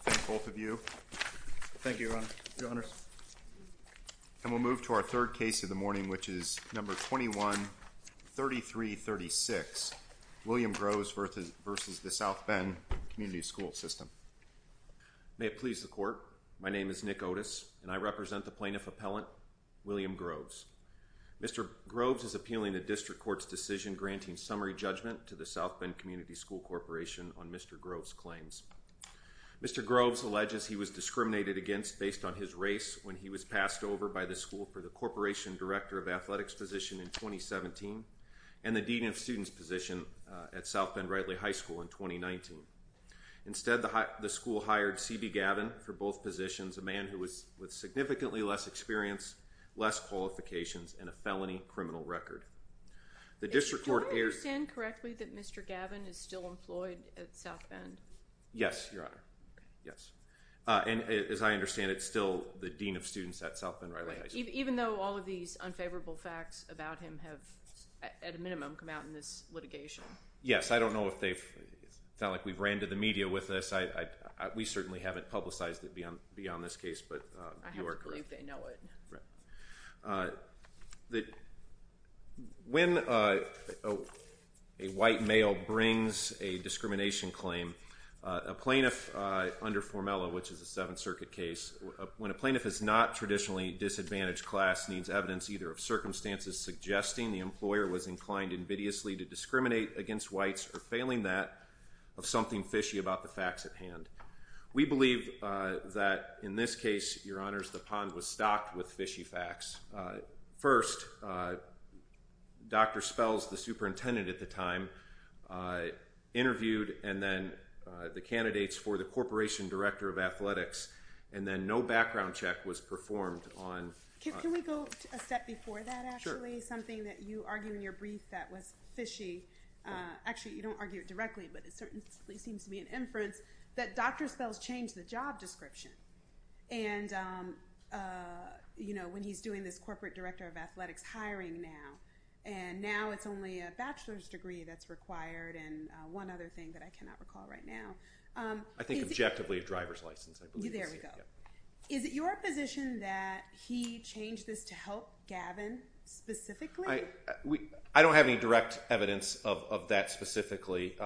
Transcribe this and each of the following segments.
Thank both of you. Thank you, Your Honors. And we'll move to our third case of the morning, which is No. 21-3336, William Groves v. South Bend Community School System. May it please the Court, my name is Nick Otis, and I represent the Plaintiff Appellant, William Groves. Mr. Groves is appealing a district court's decision granting summary judgment to the South Bend Community School Corporation on Mr. Groves' claims. Mr. Groves alleges he was discriminated against based on his race when he was passed over by the School for the Corporation Director of Athletics position in 2017 and the Dean of Students position at South Bend-Ridley High School in 2019. Instead, the school hired C.B. Gavin for both positions, a man with significantly less experience, less qualifications, and a felony criminal record. Do I understand correctly that Mr. Gavin is still employed at South Bend? Yes, Your Honor. Yes. And as I understand, it's still the Dean of Students at South Bend-Ridley High School. Even though all of these unfavorable facts about him have, at a minimum, come out in this litigation? Yes, I don't know if they've, it's not like we've ran to the media with this. We certainly haven't publicized it beyond this case, but you are correct. I have to believe they know it. When a white male brings a discrimination claim, a plaintiff under formella, which is a Seventh Circuit case, when a plaintiff is not traditionally a disadvantaged class, needs evidence either of circumstances suggesting the employer was inclined invidiously to discriminate against whites, or failing that, of something fishy about the facts at hand. We believe that, in this case, Your Honors, the pond was stocked with fishy facts. First, Dr. Spells, the superintendent at the time, interviewed and then the candidates for the Corporation Director of Athletics, and then no background check was performed on... Can we go a step before that, actually? This is something that you argue in your brief that was fishy. Actually, you don't argue it directly, but it certainly seems to be an inference, that Dr. Spells changed the job description. And, you know, when he's doing this Corporate Director of Athletics hiring now, and now it's only a bachelor's degree that's required, and one other thing that I cannot recall right now. I think, objectively, a driver's license, I believe. There we go. Is it your position that he changed this to help Gavin, specifically? I don't have any direct evidence of that, specifically.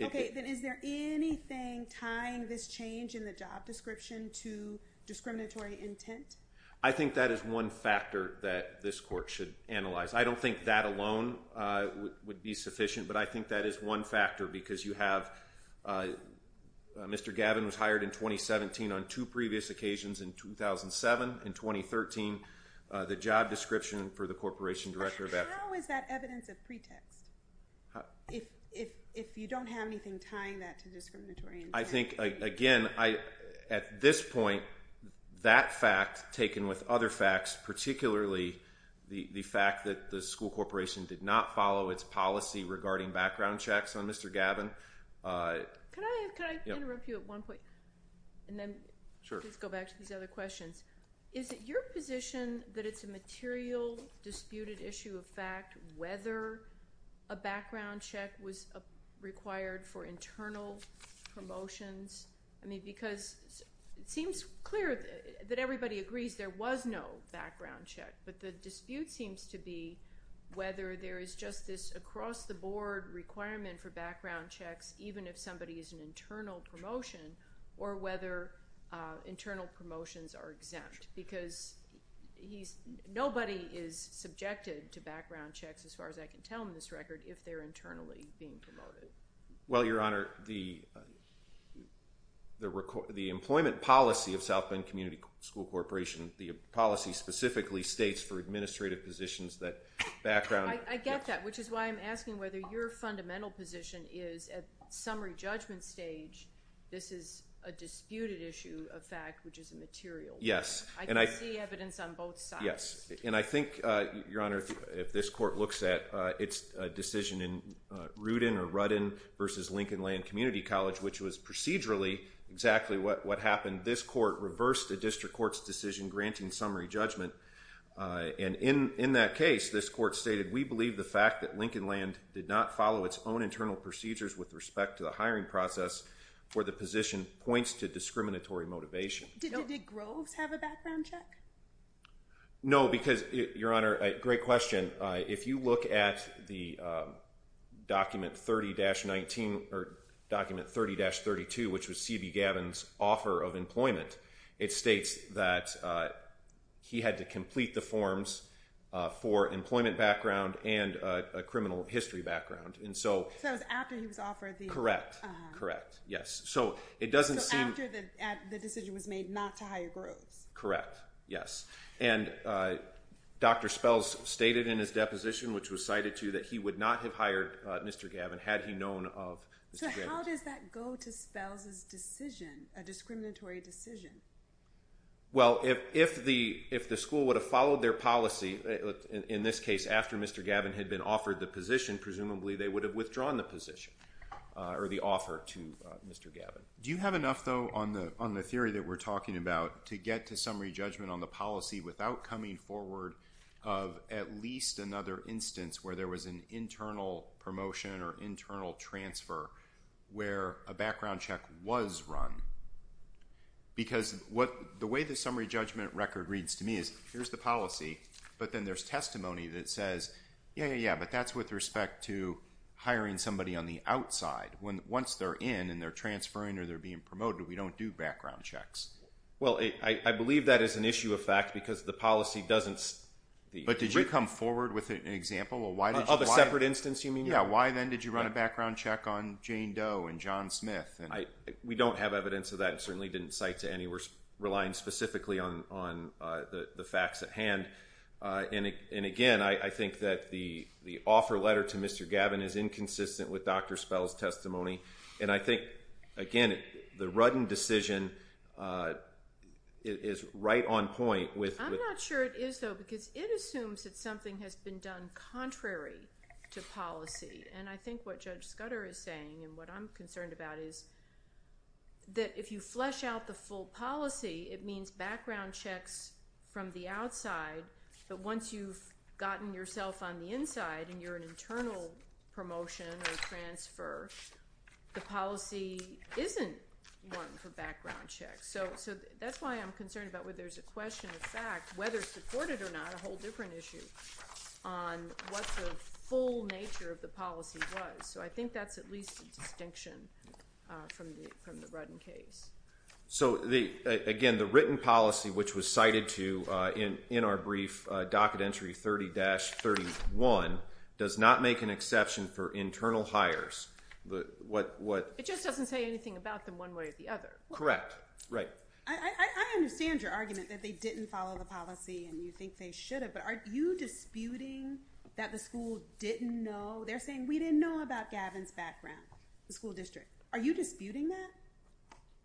Okay, then is there anything tying this change in the job description to discriminatory intent? I think that is one factor that this court should analyze. I don't think that alone would be sufficient, but I think that is one factor, because you have... Mr. Gavin was hired in 2017 on two previous occasions in 2007. In 2013, the job description for the Corporation Director of Athletics... How is that evidence of pretext? If you don't have anything tying that to discriminatory intent... I think, again, at this point, that fact, taken with other facts, particularly the fact that the school corporation did not follow its policy regarding background checks on Mr. Gavin... Can I interrupt you at one point? Sure. And then let's go back to these other questions. Is it your position that it's a material disputed issue of fact whether a background check was required for internal promotions? I mean, because it seems clear that everybody agrees there was no background check, but the dispute seems to be whether there is just this across-the-board requirement for background checks, even if somebody is an internal promotion, or whether internal promotions are exempt. Because nobody is subjected to background checks, as far as I can tell in this record, if they're internally being promoted. Well, Your Honor, the employment policy of South Bend Community School Corporation, the policy specifically states for administrative positions that background... I get that, which is why I'm asking whether your fundamental position is, at summary judgment stage, this is a disputed issue of fact, which is a material one. Yes. I can see evidence on both sides. Yes. And I think, Your Honor, if this court looks at its decision in Rudin or Rudin versus Lincoln Land Community College, which was procedurally exactly what happened, this court reversed the district court's decision granting summary judgment. And in that case, this court stated, we believe the fact that Lincoln Land did not follow its own internal procedures with respect to the hiring process for the position points to discriminatory motivation. Did Groves have a background check? No, because, Your Honor, great question. If you look at the document 30-19, or document 30-32, which was C.B. Gavin's offer of employment, it states that he had to complete the forms for employment background and a criminal history background. So that was after he was offered the... Correct. Correct. Yes. So after the decision was made not to hire Groves. Correct. Yes. And Dr. Spells stated in his deposition, which was cited too, that he would not have hired Mr. Gavin had he known of Mr. Gavin. How does that go to Spells's decision, a discriminatory decision? Well, if the school would have followed their policy, in this case, after Mr. Gavin had been offered the position, presumably they would have withdrawn the position, or the offer to Mr. Gavin. Do you have enough, though, on the theory that we're talking about to get to summary judgment on the policy without coming forward of at least another instance where there was an internal promotion or internal transfer where a background check was run? Because the way the summary judgment record reads to me is, here's the policy, but then there's testimony that says, yeah, yeah, yeah, but that's with respect to hiring somebody on the outside. Once they're in and they're transferring or they're being promoted, we don't do background checks. Well, I believe that is an issue of fact because the policy doesn't... But did you come forward with an example of why... Of a separate instance, you mean? Yeah, why then did you run a background check on Jane Doe and John Smith? We don't have evidence of that and certainly didn't cite to any. We're relying specifically on the facts at hand. And again, I think that the offer letter to Mr. Gavin is inconsistent with Dr. Spells's testimony. And I think, again, the Ruddin decision is right on point with... It assumes that something has been done contrary to policy. And I think what Judge Scudder is saying and what I'm concerned about is that if you flesh out the full policy, it means background checks from the outside. But once you've gotten yourself on the inside and you're an internal promotion or transfer, the policy isn't one for background checks. So that's why I'm concerned about whether there's a question of fact, whether supported or not, a whole different issue on what the full nature of the policy was. So I think that's at least a distinction from the Ruddin case. So again, the written policy, which was cited to in our brief docket entry 30-31, does not make an exception for internal hires. It just doesn't say anything about them one way or the other. Correct. Right. I understand your argument that they didn't follow the policy and you think they should have, but are you disputing that the school didn't know? They're saying, we didn't know about Gavin's background, the school district. Are you disputing that?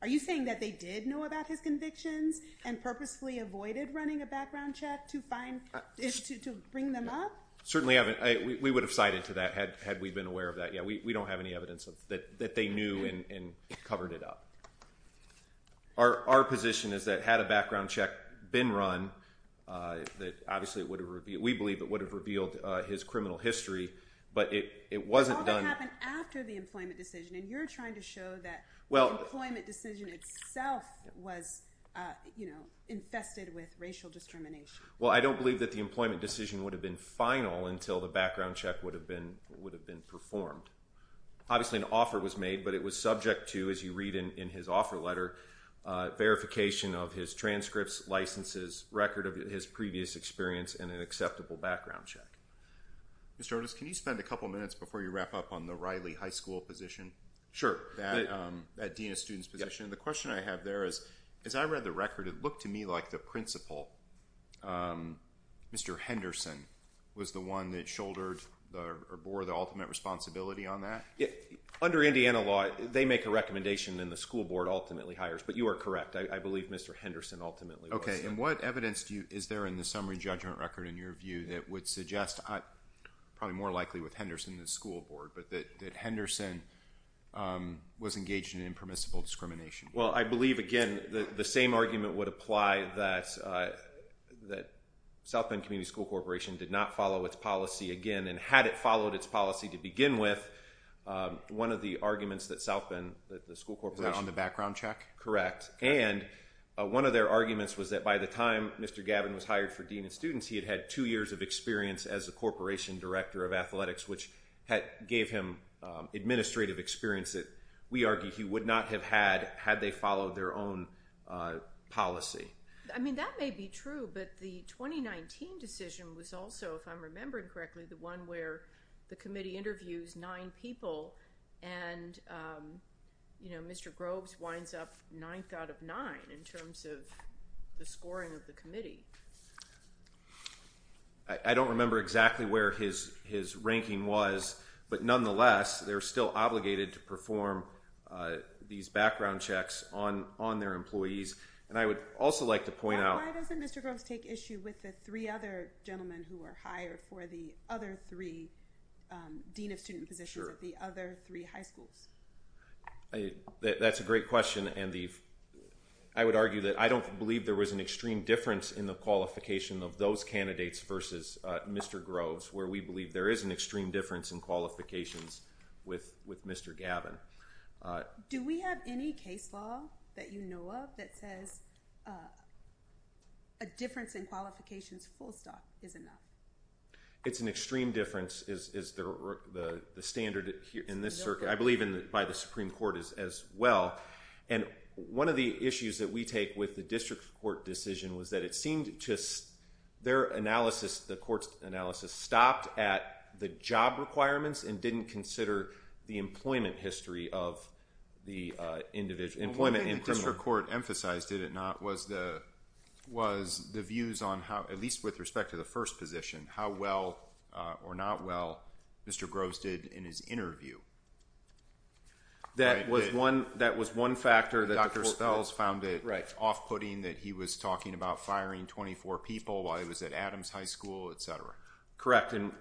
Are you saying that they did know about his convictions and purposely avoided running a background check to bring them up? Certainly haven't. We would have cited to that had we been aware of that. We don't have any evidence that they knew and covered it up. Our position is that had a background check been run, we believe it would have revealed his criminal history, but it wasn't done. But all that happened after the employment decision, and you're trying to show that the employment decision itself was infested with racial discrimination. Well, I don't believe that the employment decision would have been final until the background check would have been performed. Obviously, an offer was made, but it was subject to, as you read in his offer letter, verification of his transcripts, licenses, record of his previous experience, and an acceptable background check. Mr. Otis, can you spend a couple minutes before you wrap up on the Riley High School position? Sure. That Dean of Students position. The question I have there is, as I read the record, it looked to me like the principal, Mr. Henderson, was the one that shouldered or bore the ultimate responsibility on that? Under Indiana law, they make a recommendation and the school board ultimately hires, but you are correct. I believe Mr. Henderson ultimately was. Okay. And what evidence is there in the summary judgment record, in your view, that would suggest, probably more likely with Henderson than the school board, but that Henderson was engaged in impermissible discrimination? Well, I believe, again, the same argument would apply that South Bend Community School Corporation did not follow its policy again, and had it followed its policy to begin with, one of the arguments that South Bend, the school corporation... Is that on the background check? Correct. And one of their arguments was that by the time Mr. Gavin was hired for Dean of Students, he had had two years of experience as the Corporation Director of Athletics, which gave him administrative experience that we argue he would not have had had they followed their own policy. I mean, that may be true, but the 2019 decision was also, if I'm remembering correctly, the one where the committee interviews nine people and Mr. Groves winds up ninth out of nine in terms of the scoring of the committee. I don't remember exactly where his ranking was, but nonetheless, they're still obligated to perform these background checks on their employees. And I would also like to point out... Who are hired for the other three Dean of Student positions at the other three high schools? That's a great question. And I would argue that I don't believe there was an extreme difference in the qualification of those candidates versus Mr. Groves, where we believe there is an extreme difference in qualifications with Mr. Gavin. Do we have any case law that you know of that says a difference in qualifications full stop is enough? It's an extreme difference is the standard in this circuit. I believe by the Supreme Court as well. And one of the issues that we take with the district court decision was that it seemed to... Their analysis, the court's analysis, stopped at the job requirements and didn't consider the employment history of the individual. The only thing the district court emphasized, did it not, was the views on how, at least with respect to the first position, how well or not well Mr. Groves did in his interview. That was one factor that the court... Dr. Spells found it off-putting that he was talking about firing 24 people while he was at Adams High School, etc. Correct. And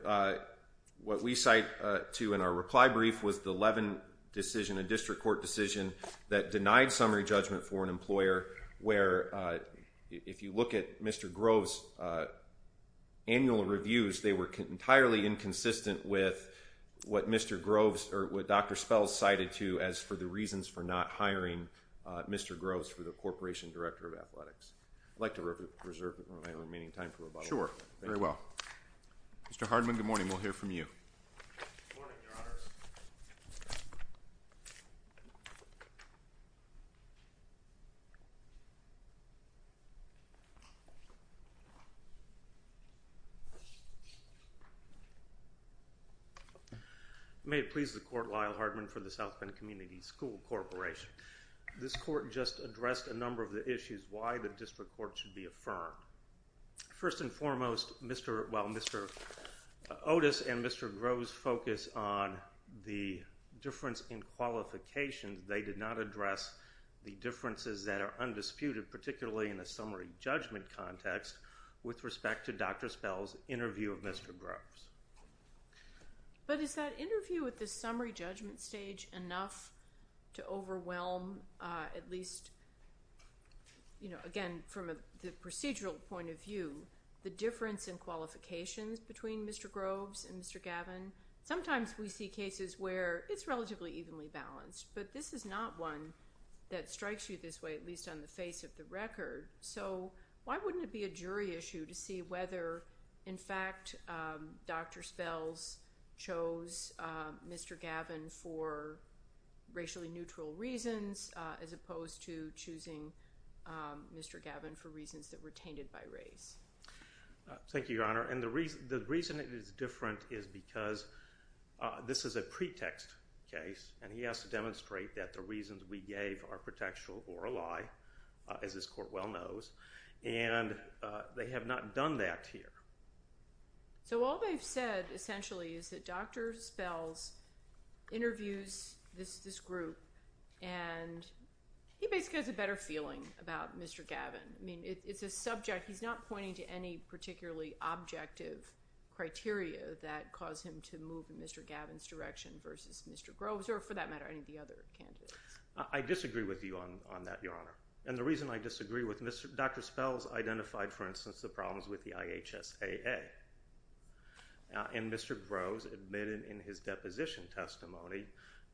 what we cite to in our reply brief was the Levin decision, that denied summary judgment for an employer where, if you look at Mr. Groves' annual reviews, they were entirely inconsistent with what Dr. Spells cited to as for the reasons for not hiring Mr. Groves for the Corporation Director of Athletics. I'd like to reserve the remaining time for rebuttal. Sure. Very well. Mr. Hardman, good morning. We'll hear from you. Good morning, Your Honors. Thank you. May it please the Court, Lyle Hardman for the South Bend Community School Corporation. This court just addressed a number of the issues, why the district court should be affirmed. First and foremost, Mr. Otis and Mr. Groves' focus on the difference in qualifications, they did not address the differences that are undisputed, particularly in a summary judgment context, with respect to Dr. Spells' interview of Mr. Groves. But is that interview at the summary judgment stage enough to overwhelm, at least, you know, again, from the procedural point of view, the difference in qualifications between Mr. Groves and Mr. Gavin? Sometimes we see cases where it's relatively evenly balanced, but this is not one that strikes you this way, at least on the face of the record. So why wouldn't it be a jury issue to see whether, in fact, Dr. Spells chose Mr. Gavin for racially neutral reasons, as opposed to choosing Mr. Gavin for reasons that were tainted by race? Thank you, Your Honor. And the reason it is different is because this is a pretext case, and he has to demonstrate that the reasons we gave are pretextual or a lie, as this court well knows, and they have not done that here. So all they've said, essentially, is that Dr. Spells interviews this group, and he basically has a better feeling about Mr. Gavin. I mean, it's a subject. He's not pointing to any particularly objective criteria that caused him to move in Mr. Gavin's direction versus Mr. Groves, or for that matter, any of the other candidates. I disagree with you on that, Your Honor. And the reason I disagree with Mr. – Dr. Spells identified, for instance, the problems with the IHSAA, and Mr. Groves admitted in his deposition testimony,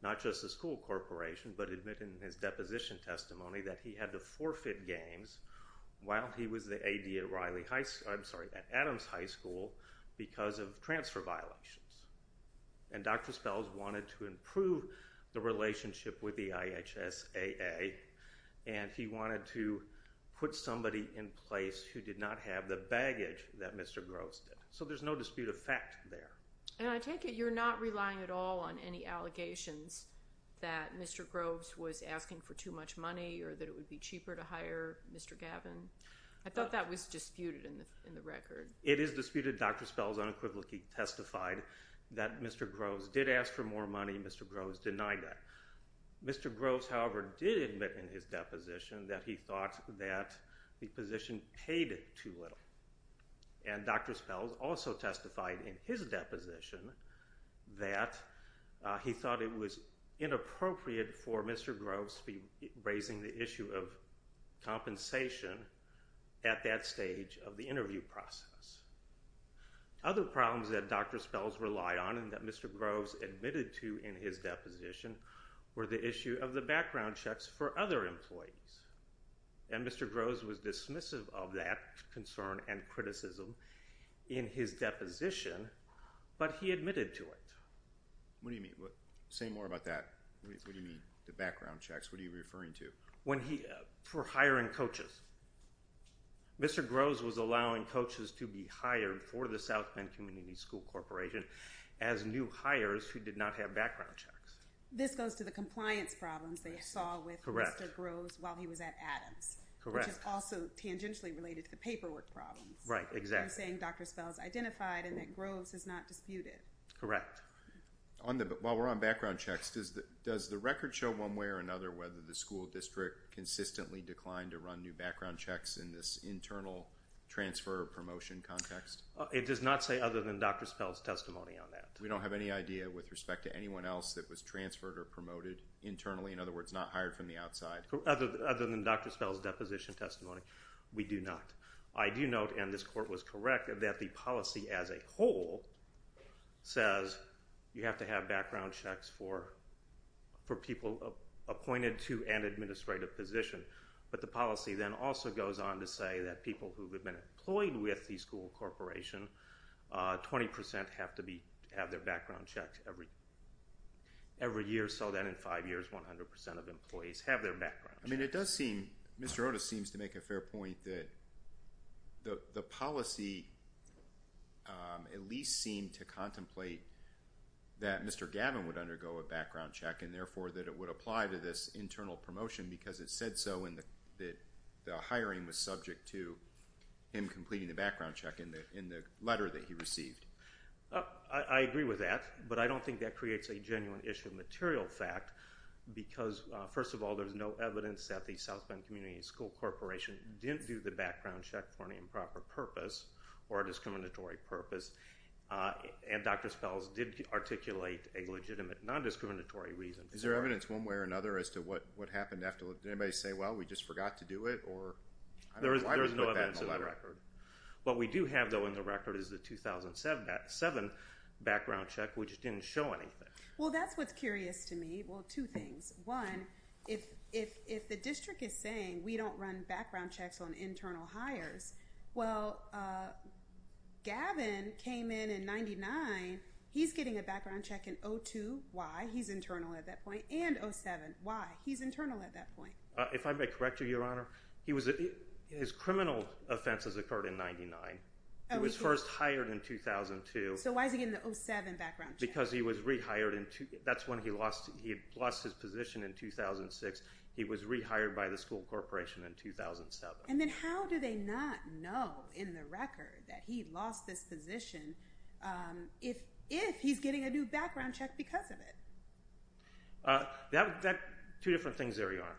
not just the school corporation, but admitted in his deposition testimony that he had to forfeit games while he was the AD at Riley High School – I'm sorry, at Adams High School because of transfer violations. And Dr. Spells wanted to improve the relationship with the IHSAA, and he wanted to put somebody in place who did not have the baggage that Mr. Groves did. So there's no dispute of fact there. And I take it you're not relying at all on any allegations that Mr. Groves was asking for too much money or that it would be cheaper to hire Mr. Gavin? I thought that was disputed in the record. It is disputed. Dr. Spells unequivocally testified that Mr. Groves did ask for more money. Mr. Groves denied that. Mr. Groves, however, did admit in his deposition that he thought that the position paid too little. And Dr. Spells also testified in his deposition that he thought it was inappropriate for Mr. Groves to be raising the issue of compensation at that stage of the interview process. Other problems that Dr. Spells relied on and that Mr. Groves admitted to in his deposition were the issue of the background checks for other employees. And Mr. Groves was dismissive of that concern and criticism in his deposition, but he admitted to it. What do you mean? Say more about that. What do you mean, the background checks? What are you referring to? For hiring coaches. Mr. Groves was allowing coaches to be hired for the South Bend Community School Corporation as new hires who did not have background checks. This goes to the compliance problems they saw with Mr. Groves while he was at Adams, which is also tangentially related to the paperwork problems. You're saying Dr. Spells identified and that Groves is not disputed. Correct. While we're on background checks, does the record show one way or another whether the school district consistently declined to run new background checks in this internal transfer or promotion context? It does not say other than Dr. Spells' testimony on that. We don't have any idea with respect to anyone else that was transferred or promoted internally, in other words, not hired from the outside? Other than Dr. Spells' deposition testimony, we do not. I do note, and this court was correct, that the policy as a whole says you have to have background checks for people appointed to an administrative position, but the policy then also goes on to say that people who have been employed with the school corporation, 20 percent have to have their background checked every year, so that in five years, 100 percent of employees have their background checked. Mr. Otis seems to make a fair point that the policy at least seemed to contemplate that Mr. Gavin would undergo a background check and therefore that it would apply to this internal promotion because it said so in that the hiring was subject to him completing the background check in the letter that he received. I agree with that, but I don't think that creates a genuine issue of material fact because, first of all, there's no evidence that the South Bend Community School Corporation didn't do the background check for an improper purpose or a discriminatory purpose, and Dr. Spells did articulate a legitimate non-discriminatory reason for it. Is there evidence one way or another as to what happened after? Did anybody say, well, we just forgot to do it? There is no evidence in the record. What we do have, though, in the record is the 2007 background check, which didn't show anything. Well, that's what's curious to me. Well, two things. One, if the district is saying we don't run background checks on internal hires, well, Gavin came in in 99. He's getting a background check in 02. Why? He's internal at that point. And 07. Why? He's internal at that point. If I may correct you, Your Honor, his criminal offenses occurred in 99. He was first hired in 2002. So why is he getting the 07 background check? Because he was rehired. That's when he lost his position in 2006. He was rehired by the school corporation in 2007. And then how do they not know in the record that he lost this position if he's getting a new background check because of it? Two different things, Your Honor.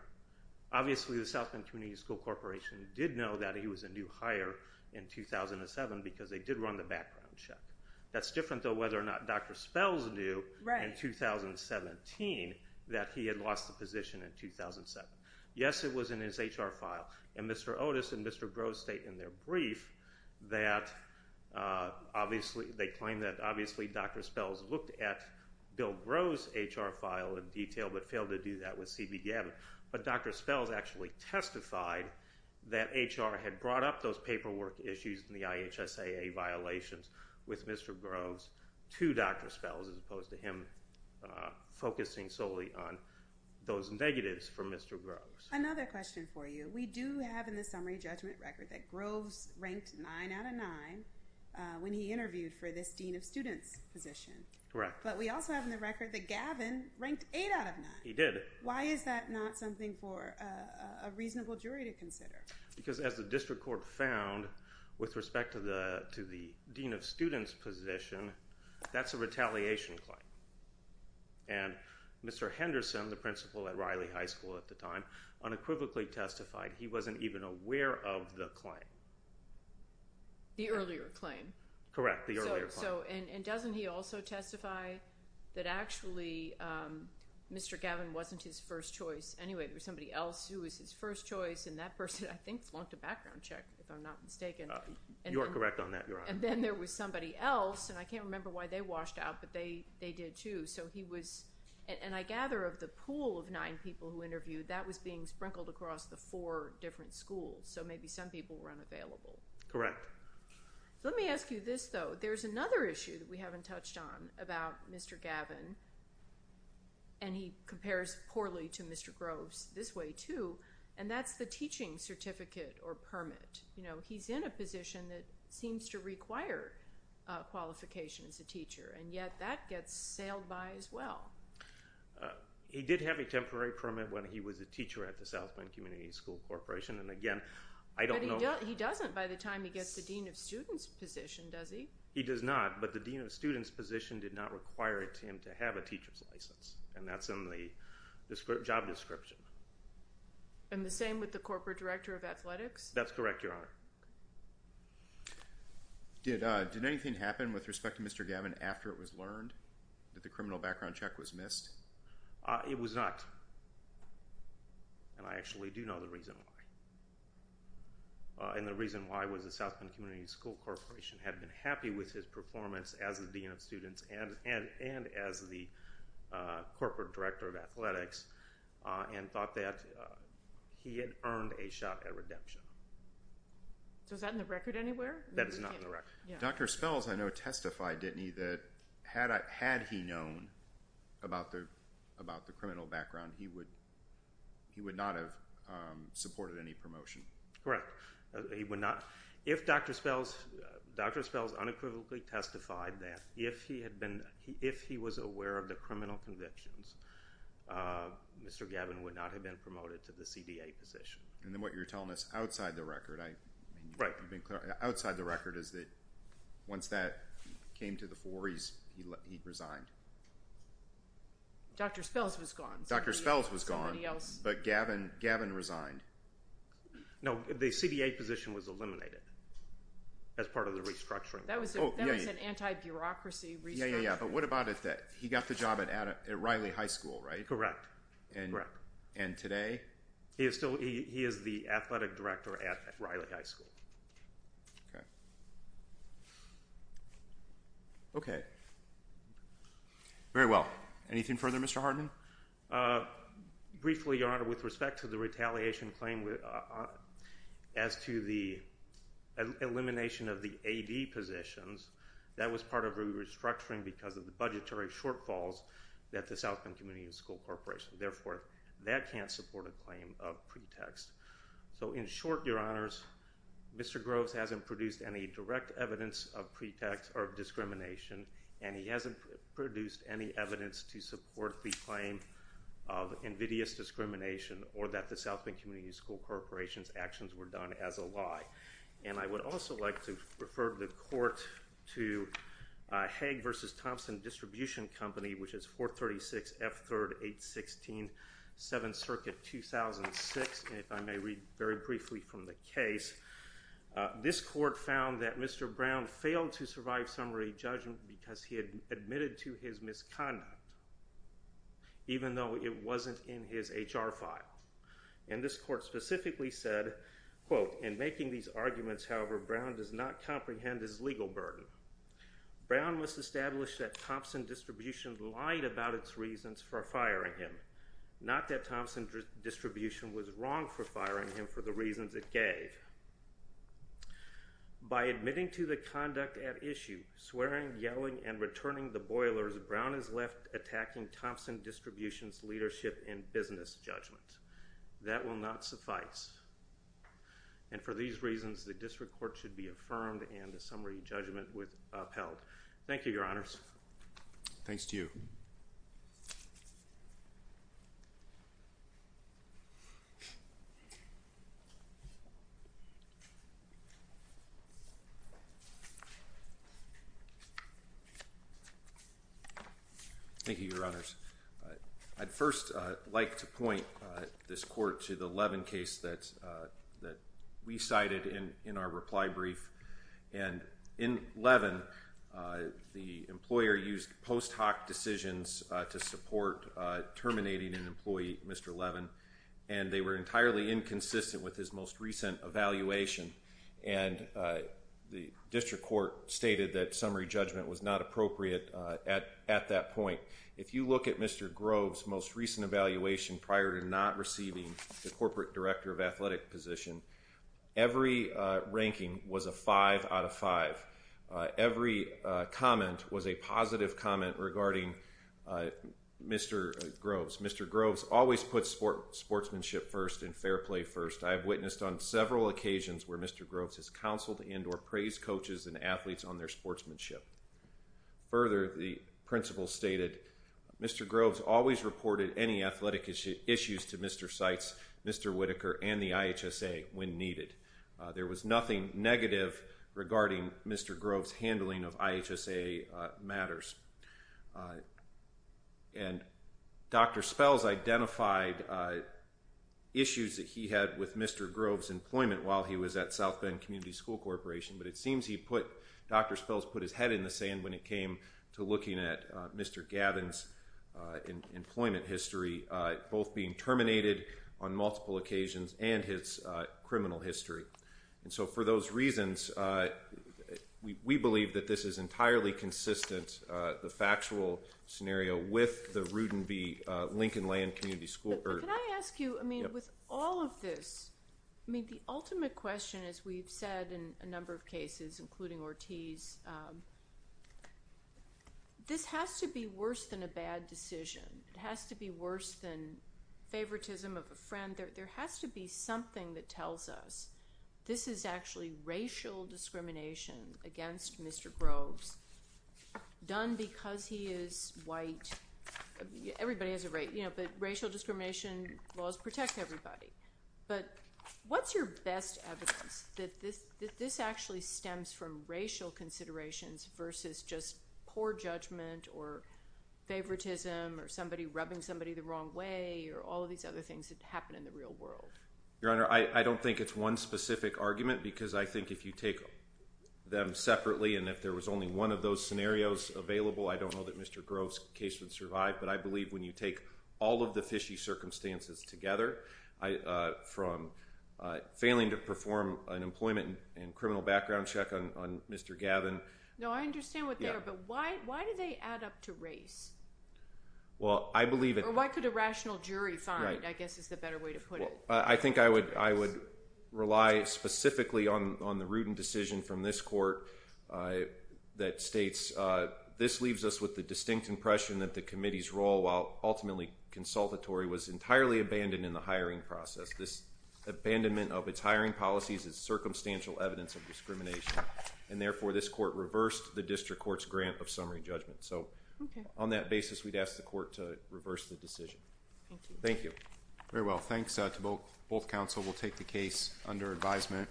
Obviously, the South Bend Community School Corporation did know that he was a new hire in 2007 because they did run the background check. That's different, though, whether or not Dr. Spells knew in 2017 that he had lost the position in 2007. Yes, it was in his HR file. And Mr. Otis and Mr. Groves state in their brief that obviously, they claim that obviously Dr. Spells looked at Bill Groves' HR file in detail but failed to do that with C.B. Gavin. But Dr. Spells actually testified that HR had brought up those paperwork issues and the IHSAA violations with Mr. Groves to Dr. Spells as opposed to him focusing solely on those negatives for Mr. Groves. Another question for you. We do have in the summary judgment record that Groves ranked 9 out of 9 when he interviewed for this Dean of Students position. Correct. But we also have in the record that Gavin ranked 8 out of 9. He did. Why is that not something for a reasonable jury to consider? Because as the district court found with respect to the Dean of Students position, that's a retaliation claim. And Mr. Henderson, the principal at Riley High School at the time, unequivocally testified he wasn't even aware of the claim. The earlier claim. Correct, the earlier claim. And doesn't he also testify that actually Mr. Gavin wasn't his first choice? Anyway, there was somebody else who was his first choice and that person I think flunked a background check if I'm not mistaken. You are correct on that, Your Honor. And then there was somebody else and I can't remember why they washed out, but they did too. And I gather of the pool of nine people who interviewed, that was being sprinkled across the four different schools. So maybe some people were unavailable. Correct. Let me ask you this though. There's another issue that we haven't touched on about Mr. Gavin and he compares poorly to Mr. Groves this way too, and that's the teaching certificate or permit. He's in a position that seems to require a teaching qualification as a teacher and yet that gets sailed by as well. He did have a temporary permit when he was a teacher at the South Bend Community School Corporation and again, I don't know... But he doesn't by the time he gets the Dean of Students position, does he? He does not, but the Dean of Students position did not require it to him to have a teacher's license and that's in the job description. And the same with the corporate director of athletics? That's correct, Your Honor. Okay. Did anything happen with respect to Mr. Gavin after it was learned that the criminal background check was missed? It was not. And I actually do know the reason why. And the reason why was the South Bend Community School Corporation had been happy with his performance as the Dean of Students and as the corporate director of athletics and thought that he had earned a shot at redemption. So is that in the record anywhere? That is not in the record. Dr. Spells, I know, testified, didn't he, that had he known about the criminal background, he would not have supported any promotion. Correct. If Dr. Spells unequivocally testified that if he was aware of the criminal convictions, Mr. Gavin would not have been promoted to the CDA position. And then what you're telling us outside the record, is that once that came to the fore, he resigned. Dr. Spells was gone. Dr. Spells was gone, but Gavin resigned. No, the CDA position was eliminated as part of the restructuring. That was an anti-bureaucracy restructuring. Yeah, yeah, yeah, but what about it that he got the job at Riley High School, right? Correct. And today? He is still, he is the athletic director at Riley High School. Okay. Okay. Very well. Anything further, Mr. Hardin? Briefly, Your Honor, with respect to the retaliation claim as to the elimination of the AD positions, that was part of a restructuring because of the budgetary shortfalls that the South Bend Community and School Corporation. Therefore, that can't support a claim of pretext. So, in short, Your Honors, Mr. Groves hasn't produced any direct evidence of pretext or discrimination, and he hasn't produced any evidence to support the claim of invidious discrimination or that the South Bend Community and School Corporation's actions were done as a lie. And I would also like to refer the court to Hagg v. Thompson Distribution Company, which is 436 F. 3rd, 816, 7th Circuit, 2006. And if I may read very briefly from the case, this court found that Mr. Brown failed to survive summary judgment because he had admitted to his misconduct, even though it wasn't in his HR file. And this court specifically said, quote, in making these arguments, however, Brown does not comprehend his legal burden. Brown must establish that Thompson Distribution lied about its reasons for firing him, not that Thompson Distribution was wrong for firing him for the reasons it gave. By admitting to the conduct at issue, swearing, yelling, and returning the boilers, Brown is left attacking Thompson Distribution's leadership in business judgment. That will not suffice. And for these reasons, the district court should be affirmed and the summary judgment upheld. Thank you, Your Honors. Thank you. Thank you, Your Honors. I'd first like to point this court to the Levin case that we cited in our reply brief. And in Levin, the employer used post hoc decisions to support terminating an employee, Mr. Levin. And they were entirely inconsistent with his most recent evaluation. And the district court stated that summary judgment was not appropriate at that point. If you look at Mr. Grove's most recent evaluation prior to not receiving the Corporate Director of Athletic position, every ranking was a five out of five. Every comment was a positive comment regarding Mr. Grove's. Mr. Grove's always puts sportsmanship first and fair play first. I have witnessed on several occasions where Mr. Grove's has counseled and or praised coaches and athletes on their sportsmanship. Further, the principal stated, Mr. Grove's always reported any athletic issues to Mr. Seitz, Mr. Whitaker, and the IHSA when needed. There was nothing negative regarding Mr. Grove's handling of IHSA matters. And Dr. Spells identified issues that he had with Mr. Grove's employment while he was at South Bend Community School Corporation. But it seems Dr. Spells put his head in the sand when it came to looking at Mr. Gavin's employment history, both being terminated on multiple occasions and his criminal history. And so for those reasons, we believe that this is entirely consistent, the factual scenario, with the Rudin v. Lincoln Land Community School. Can I ask you, I mean, with all of this, I mean, the ultimate question, as we've said in a number of cases, including Ortiz, this has to be worse than a bad decision. It has to be worse than favoritism of a friend. There has to be something that tells us this is actually racial discrimination against Mr. Grove's, done because he is white. Everybody has a right, but racial discrimination laws protect everybody. But what's your best evidence that this actually stems from racial considerations versus just poor judgment or favoritism or somebody rubbing somebody the wrong way or all of these other things that happen in the real world? Your Honor, I don't think it's one specific argument because I think if you take them separately and if there was only one of those scenarios available, I don't know that Mr. Grove's case would survive, but I believe when you take all of the fishy circumstances together, from failing to perform an employment and criminal background check on Mr. Gavin... No, I understand what they are, but why do they add up to race? Well, I believe... Or why could a rational jury find it, I guess is the better way to put it. I think I would rely specifically on the Rudin decision from this court that states, this leaves us with the distinct impression that the committee's role, while ultimately consultatory, was entirely abandoned in the hiring process. This abandonment of its hiring policies is circumstantial evidence of discrimination, and therefore this court reversed So on that basis, we'd ask the court to reverse the decision. Thank you. Thank you. Very well. Thanks to both counsel. We'll take the case under advisement.